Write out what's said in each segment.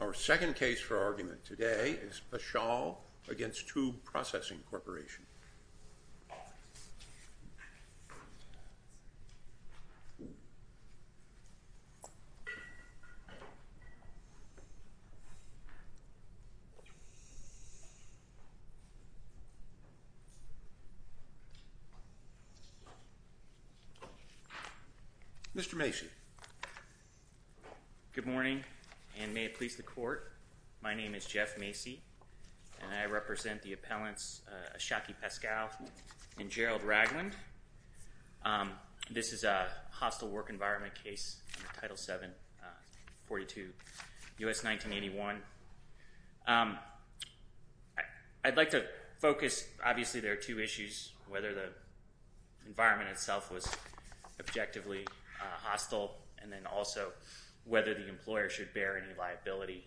Our second case for argument today is Paschall v. Tube Processing Corporation. Mr. Macy. Good morning, and may it please the Court, my name is Jeff Macy, and I represent the appellants Ashaki Paschall and Gerald Ragland. This is a hostile work environment case, Title VII, 42 U.S. 1981. I'd like to focus, obviously there are two issues, whether the environment itself was objectively hostile, and then also whether the employer should bear any liability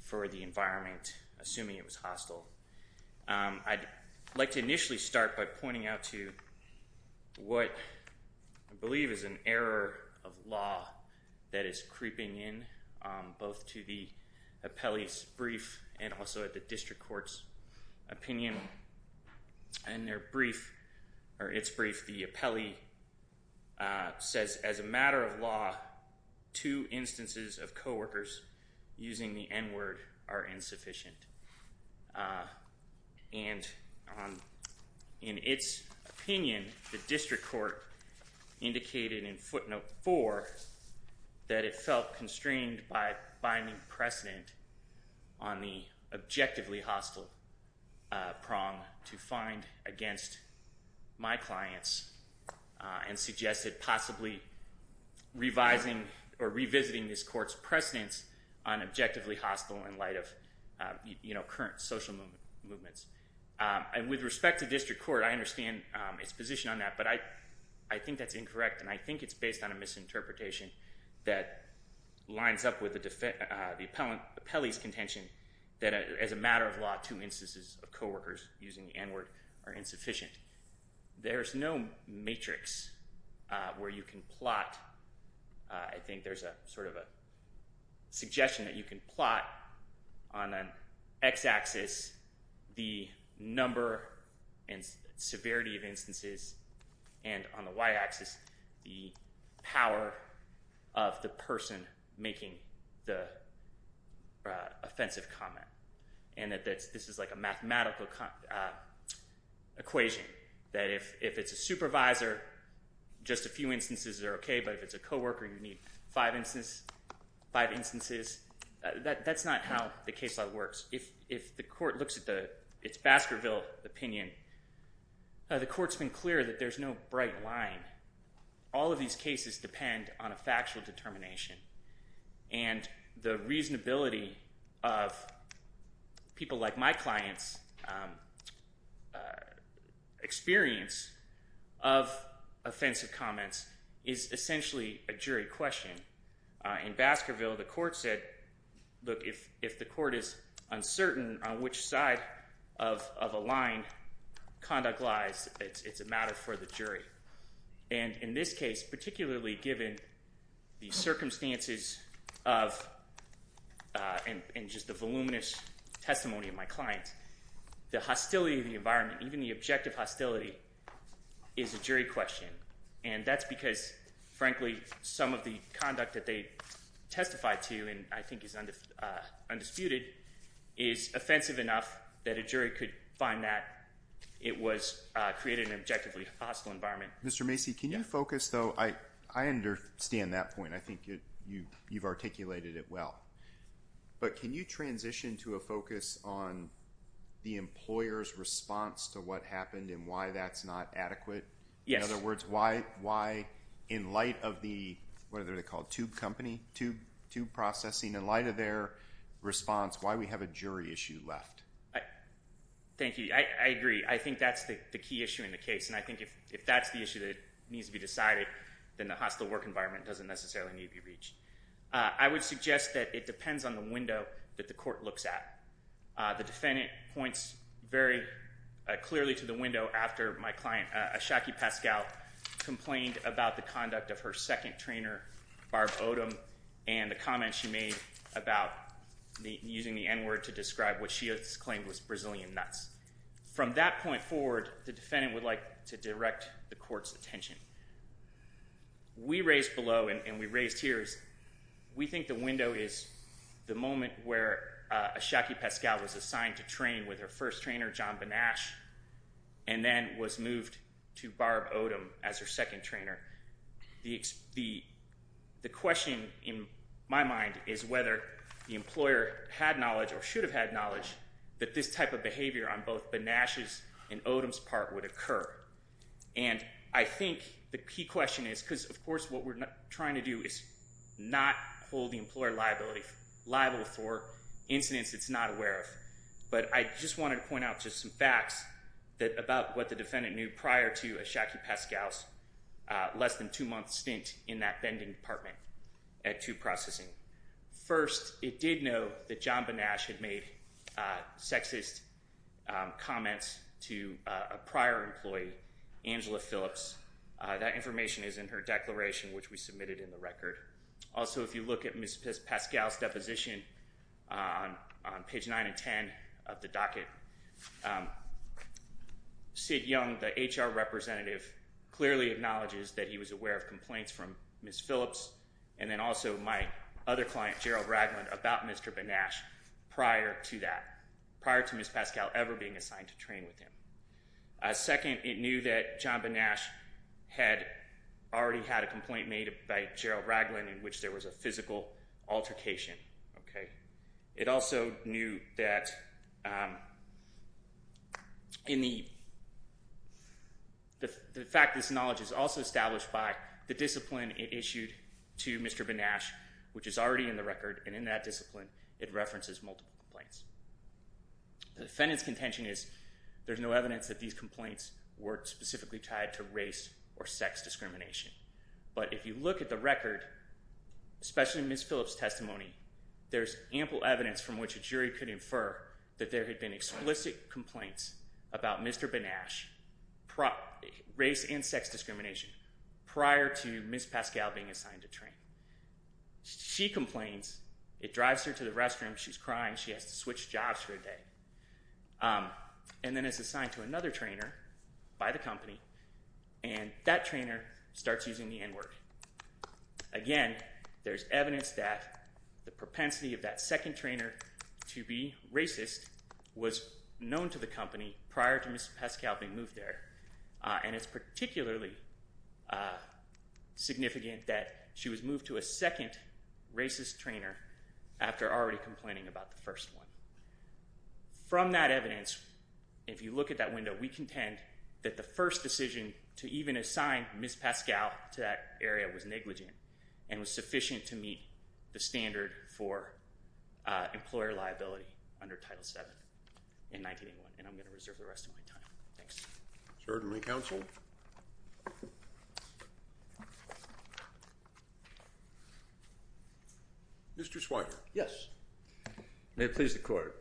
for the environment, assuming it was hostile. I'd like to initially start by pointing out to what I believe is an error of law that is creeping in, both to the appellee's brief and also at the district court's opinion. In their brief, or its brief, the appellee says, as a matter of law, two instances of co-workers using the N-word are insufficient. And in its opinion, the district court indicated in footnote 4 that it felt constrained by binding precedent on the objectively hostile prong to find against my clients, and suggested possibly revising or revisiting this court's precedence on objectively hostile in light of current social movements. And with respect to district court, I understand its position on that, but I think that's incorrect and I think it's based on a misinterpretation that lines up with the appellee's contention that as a matter of law, two instances of co-workers using the N-word are insufficient. There's no matrix where you can plot, I think there's sort of a suggestion that you can plot on an x-axis the number and severity of instances, and on the y-axis the power of the person making the offensive comment. And that this is like a mathematical equation, that if it's a supervisor, just a few instances are okay, but if it's a co-worker, you need five instances. That's not how the case law works. If the court looks at its Baskerville opinion, the court's been clear that there's no bright line. All of these cases depend on a factual determination, and the reasonability of people like my clients' experience of offensive comments is essentially a jury question. In Baskerville, the court said, look, if the court is uncertain on which side of a line conduct lies, it's a matter for the jury. And in this case, particularly given the circumstances and just the voluminous testimony of my clients, the hostility of the environment, even the objective hostility, is a jury question. And that's because, frankly, some of the conduct that they testified to and I think is undisputed is offensive enough that a jury could find that it was created in an objectively hostile environment. Mr. Macy, can you focus, though? I understand that point. I think you've articulated it well. But can you transition to a focus on the employer's response to what happened and why that's not adequate? In other words, why in light of the tube company, tube processing, in light of their response, why do we have a jury issue left? Thank you. I agree. I think that's the key issue in the case. And I think if that's the issue that needs to be decided, then the hostile work environment doesn't necessarily need to be reached. I would suggest that it depends on the window that the court looks at. The defendant points very clearly to the window after my client, Ashaki Pascal, complained about the conduct of her second trainer, Barb Odom, and the comment she made about using the N-word to describe what she has claimed was Brazilian nuts. From that point forward, the defendant would like to direct the court's attention. We raised below and we raised here is we think the window is the moment where Ashaki Pascal was assigned to train with her first trainer, John Benash, and then was moved to Barb Odom as her second trainer. The question in my mind is whether the employer had knowledge or should have had knowledge that this type of behavior on both Benash's and Odom's part would occur. And I think the key question is because, of course, what we're trying to do is not hold the employer liable for incidents it's not aware of. But I just wanted to point out just some facts about what the defendant knew prior to Ashaki Pascal's less than two-month stint in that vending department at 2 Processing. First, it did know that John Benash had made sexist comments to a prior employee, Angela Phillips. That information is in her declaration, which we submitted in the record. Also, if you look at Ms. Pascal's deposition on page 9 and 10 of the docket, Sid Young, the HR representative, clearly acknowledges that he was aware of complaints from Ms. Phillips. And then also my other client, Gerald Ragland, about Mr. Benash prior to that, prior to Ms. Pascal ever being assigned to train with him. Second, it knew that John Benash had already had a complaint made by Gerald Ragland in which there was a physical altercation. It also knew that in the fact this knowledge is also established by the discipline it issued to Mr. Benash, which is already in the record, and in that discipline it references multiple complaints. The defendant's contention is there's no evidence that these complaints were specifically tied to race or sex discrimination. But if you look at the record, especially Ms. Phillips' testimony, there's ample evidence from which a jury could infer that there had been explicit complaints about Mr. Benash, race and sex discrimination, prior to Ms. Pascal being assigned to train. She complains. It drives her to the restroom. She's crying. She has to switch jobs for a day. And then is assigned to another trainer by the company, and that trainer starts using the N-word. Again, there's evidence that the propensity of that second trainer to be racist was known to the company prior to Ms. Pascal being moved there. And it's particularly significant that she was moved to a second racist trainer after already complaining about the first one. From that evidence, if you look at that window, we contend that the first decision to even assign Ms. Pascal to that area was negligent and was sufficient to meet the standard for employer liability under Title VII in 1981. And I'm going to reserve the rest of my time. Thanks. Certainly, counsel. Mr. Swigert. Yes. May it please the Court.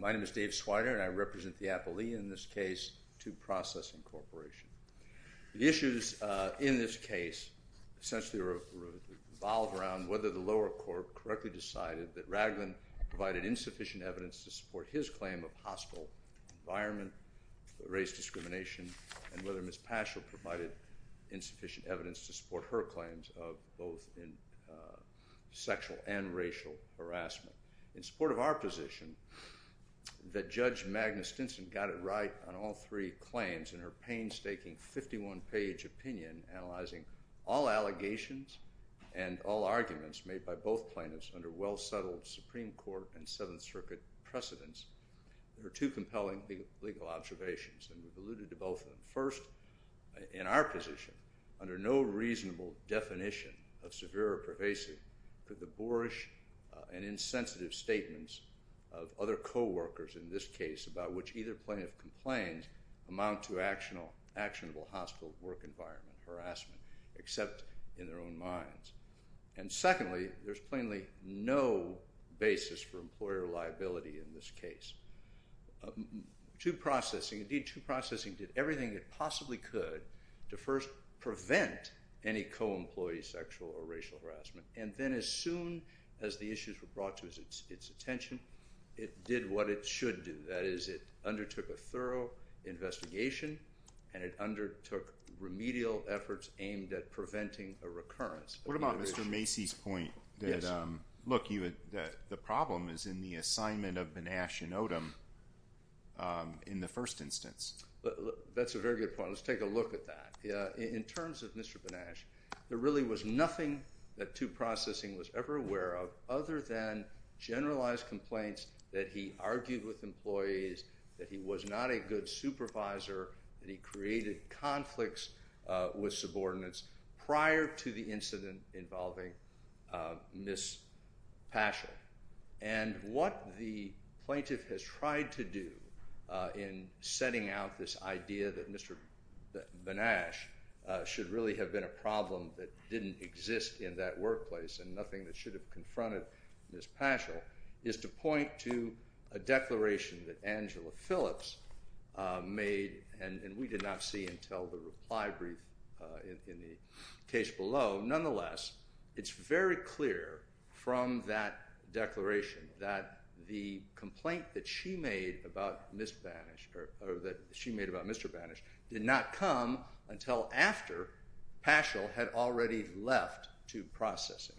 My name is Dave Swigert, and I represent the appellee in this case to Processing Corporation. The issues in this case essentially revolve around whether the lower court correctly decided that Raglin provided insufficient evidence to support his claim of hostile environment, race discrimination, and whether Ms. Paschal provided insufficient evidence to support her claims of both sexual and racial harassment. In support of our position that Judge Magnus Stinson got it right on all three claims in her painstaking 51-page opinion analyzing all allegations and all arguments made by both plaintiffs under well-settled Supreme Court and Seventh Circuit precedents, there are two compelling legal observations, and we've alluded to both of them. First, in our position, under no reasonable definition of severe or pervasive could the boorish and insensitive statements of other coworkers in this case about which either plaintiff complained amount to actionable hostile work environment harassment, except in their own minds. And secondly, there's plainly no basis for employer liability in this case. True processing – indeed, true processing did everything it possibly could to first prevent any co-employee sexual or racial harassment, and then as soon as the issues were brought to its attention, it did what it should do. That is, it undertook a thorough investigation and it undertook remedial efforts aimed at preventing a recurrence. What about Mr. Macy's point that, look, the problem is in the assignment of Banach and Odom in the first instance? That's a very good point. Let's take a look at that. In terms of Mr. Banach, there really was nothing that true processing was ever aware of other than generalized complaints that he argued with employees, that he was not a good supervisor, that he created conflicts with subordinates prior to the incident involving Ms. Paschall. And what the plaintiff has tried to do in setting out this idea that Mr. Banach should really have been a problem that didn't exist in that workplace and nothing that should have confronted Ms. Paschall is to point to a declaration that Angela Phillips made, and we did not see until the reply brief in the case below. Nonetheless, it's very clear from that declaration that the complaint that she made about Mr. Banach did not come until after Paschall had already left true processing.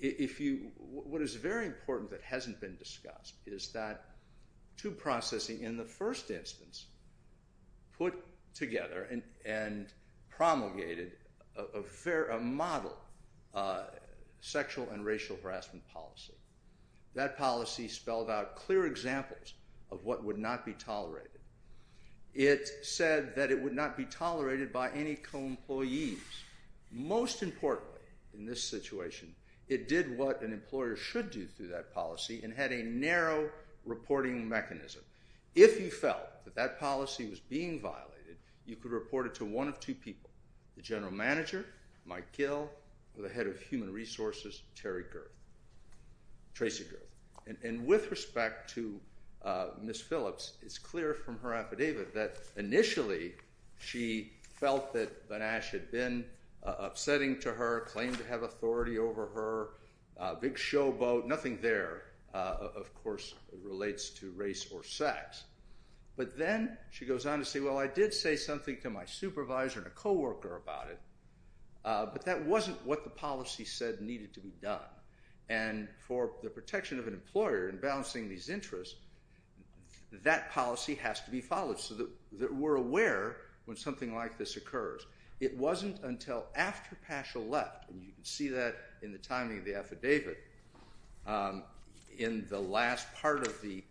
What is very important that hasn't been discussed is that true processing in the first instance put together and promulgated a model sexual and racial harassment policy. That policy spelled out clear examples of what would not be tolerated. It said that it would not be tolerated by any co-employees. Most importantly in this situation, it did what an employer should do through that policy and had a narrow reporting mechanism. If you felt that that policy was being violated, you could report it to one of two people, the general manager, Mike Gill, or the head of human resources, Terry Girth, Tracy Girth. With respect to Ms. Phillips, it's clear from her affidavit that initially she felt that Banach had been upsetting to her, claimed to have authority over her, a big showboat. Nothing there, of course, relates to race or sex, but then she goes on to say, well, I did say something to my supervisor and a co-worker about it, but that wasn't what the policy said needed to be done. And for the protection of an employer and balancing these interests, that policy has to be followed so that we're aware when something like this occurs. It wasn't until after Paschall left, and you can see that in the timing of the affidavit, in the last part of the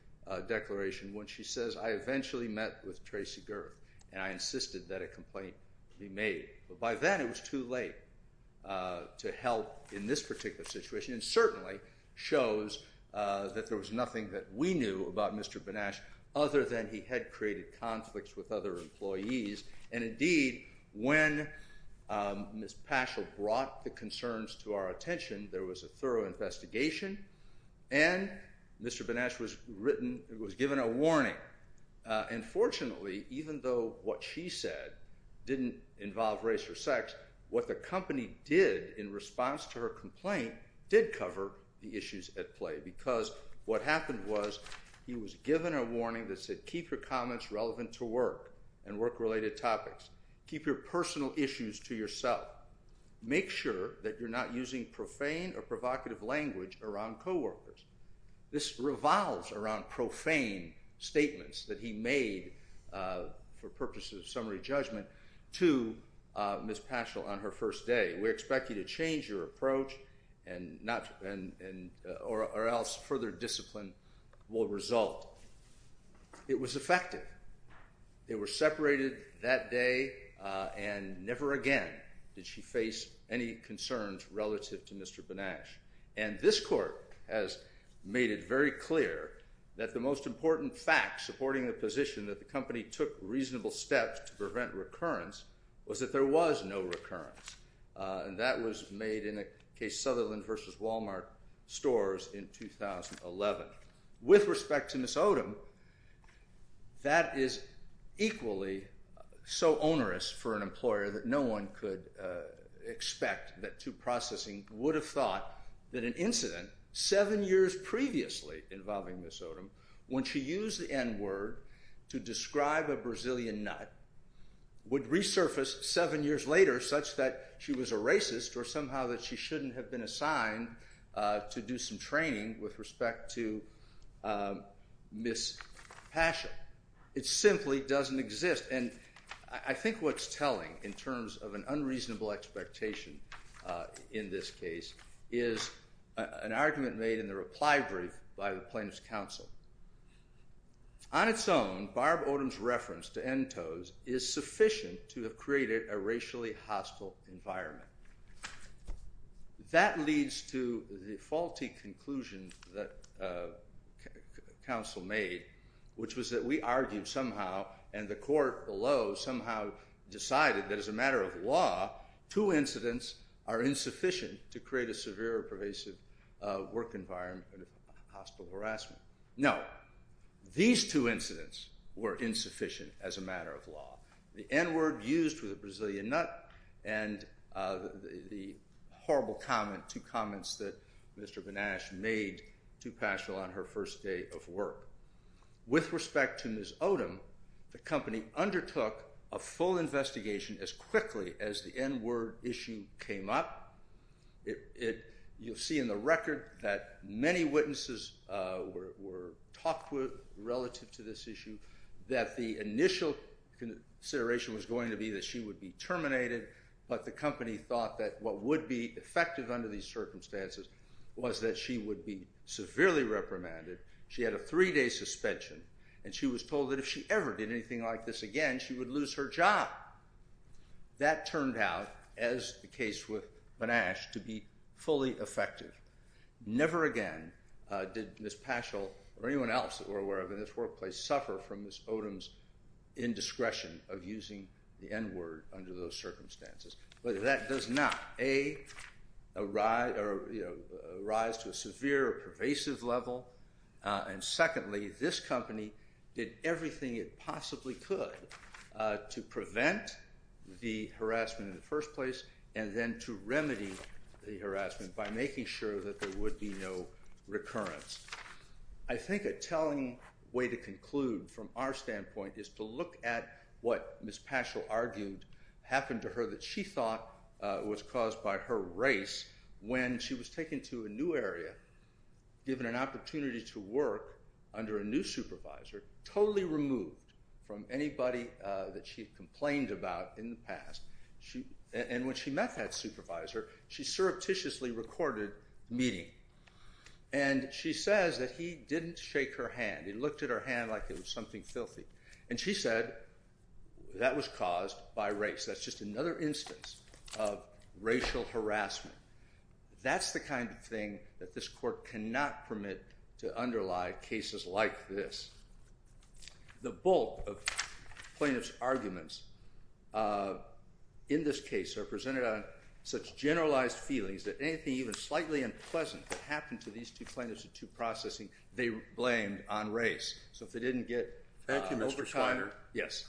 declaration when she says, I eventually met with Tracy Girth and I insisted that a complaint be made. But by then it was too late to help in this particular situation, and certainly shows that there was nothing that we knew about Mr. Banach other than he had created conflicts with other employees. And indeed, when Ms. Paschall brought the concerns to our attention, there was a thorough investigation, and Mr. Banach was given a warning. And fortunately, even though what she said didn't involve race or sex, what the company did in response to her complaint did cover the issues at play. Because what happened was he was given a warning that said keep your comments relevant to work and work-related topics. Keep your personal issues to yourself. Make sure that you're not using profane or provocative language around co-workers. This revolves around profane statements that he made for purposes of summary judgment to Ms. Paschall on her first day. We expect you to change your approach or else further discipline will result. It was effective. They were separated that day, and never again did she face any concerns relative to Mr. Banach. And this court has made it very clear that the most important fact supporting the position that the company took reasonable steps to prevent recurrence was that there was no recurrence. And that was made in the case Sutherland v. Walmart stores in 2011. With respect to Ms. Odom, that is equally so onerous for an employer that no one could expect that tube processing would have thought that an incident seven years previously involving Ms. Odom, when she used the N-word to describe a Brazilian nut, would resurface seven years later such that she was a racist or somehow that she shouldn't have been assigned to do some training with respect to Ms. Paschall. It simply doesn't exist. And I think what's telling in terms of an unreasonable expectation in this case is an argument made in the reply brief by the plaintiff's counsel. On its own, Barb Odom's reference to NTOs is sufficient to have created a racially hostile environment. That leads to the faulty conclusion that counsel made, which was that we argued somehow and the court below somehow decided that as a matter of law, two incidents are insufficient to create a severe or pervasive work environment of hostile harassment. No, these two incidents were insufficient as a matter of law. The N-word used for the Brazilian nut and the horrible comment, two comments that Mr. Banach made to Paschall on her first day of work. With respect to Ms. Odom, the company undertook a full investigation as quickly as the N-word issue came up. You'll see in the record that many witnesses were talked with relative to this issue that the initial consideration was going to be that she would be terminated, but the company thought that what would be effective under these circumstances was that she would be severely reprimanded. She had a three-day suspension, and she was told that if she ever did anything like this again, she would lose her job. That turned out, as the case with Banach, to be fully effective. Never again did Ms. Paschall or anyone else that we're aware of in this workplace suffer from Ms. Odom's indiscretion of using the N-word under those circumstances. But that does not, A, arise to a severe or pervasive level, and secondly, this company did everything it possibly could to prevent the harassment in the first place and then to remedy the harassment by making sure that there would be no recurrence. I think a telling way to conclude from our standpoint is to look at what Ms. Paschall argued happened to her that she thought was caused by her race when she was taken to a new area, given an opportunity to work under a new supervisor, totally removed from anybody that she complained about in the past. And when she met that supervisor, she surreptitiously recorded meeting. And she says that he didn't shake her hand. He looked at her hand like it was something filthy. And she said that was caused by race. That's just another instance of racial harassment. That's the kind of thing that this court cannot permit to underlie cases like this. The bulk of plaintiff's arguments in this case are presented on such generalized feelings that anything even slightly unpleasant that happened to these two plaintiffs or two processing, they blamed on race. So if they didn't get overtired, yes,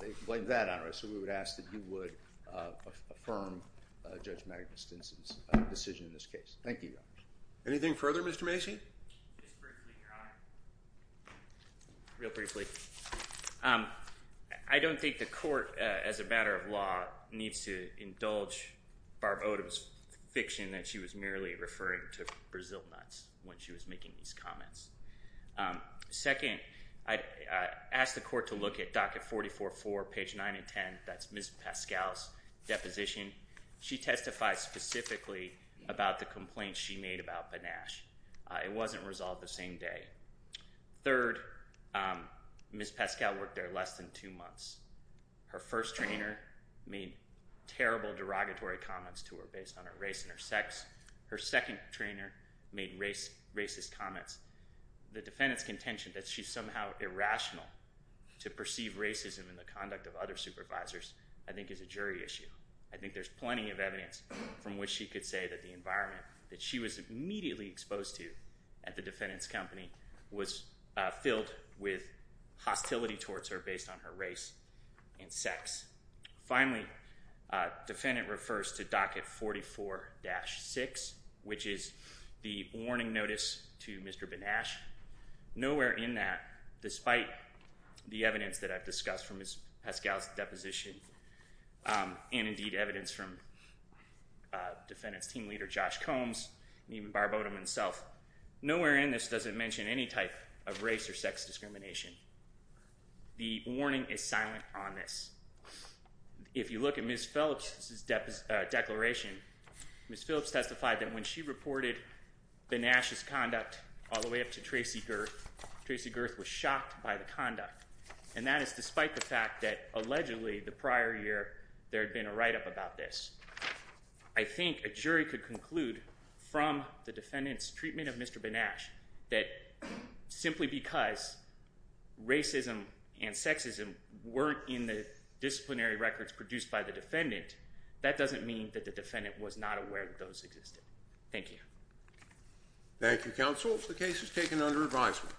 they blamed that on race. So we would ask that you would affirm Judge Magnus Stinson's decision in this case. Thank you, Your Honor. Anything further, Mr. Macy? Just briefly, Your Honor. Real briefly. I don't think the court, as a matter of law, needs to indulge Barb Odom's fiction that she was merely referring to Brazil nuts when she was making these comments. Second, I'd ask the court to look at docket 44-4, page 9 and 10. That's Ms. Paschall's deposition. She testified specifically about the complaint she made about Benash. It wasn't resolved the same day. Third, Ms. Paschall worked there less than two months. Her first trainer made terrible derogatory comments to her based on her race and her sex. Her second trainer made racist comments. The defendant's contention that she's somehow irrational to perceive racism in the conduct of other supervisors I think is a jury issue. I think there's plenty of evidence from which she could say that the environment that she was immediately exposed to at the defendant's company was filled with hostility towards her based on her race and sex. Finally, defendant refers to docket 44-6, which is the warning notice to Mr. Benash. Nowhere in that, despite the evidence that I've discussed from Ms. Paschall's deposition and indeed evidence from defendant's team leader Josh Combs and even Barb Odom himself, nowhere in this does it mention any type of race or sex discrimination. The warning is silent on this. If you look at Ms. Phillips' declaration, Ms. Phillips testified that when she reported Benash's conduct all the way up to Tracy Gerth, Tracy Gerth was shocked by the conduct. And that is despite the fact that allegedly the prior year there had been a write-up about this. I think a jury could conclude from the defendant's treatment of Mr. Benash that simply because racism and sexism weren't in the disciplinary records produced by the defendant, that doesn't mean that the defendant was not aware that those existed. Thank you. Thank you, counsel. The case is taken under advisement.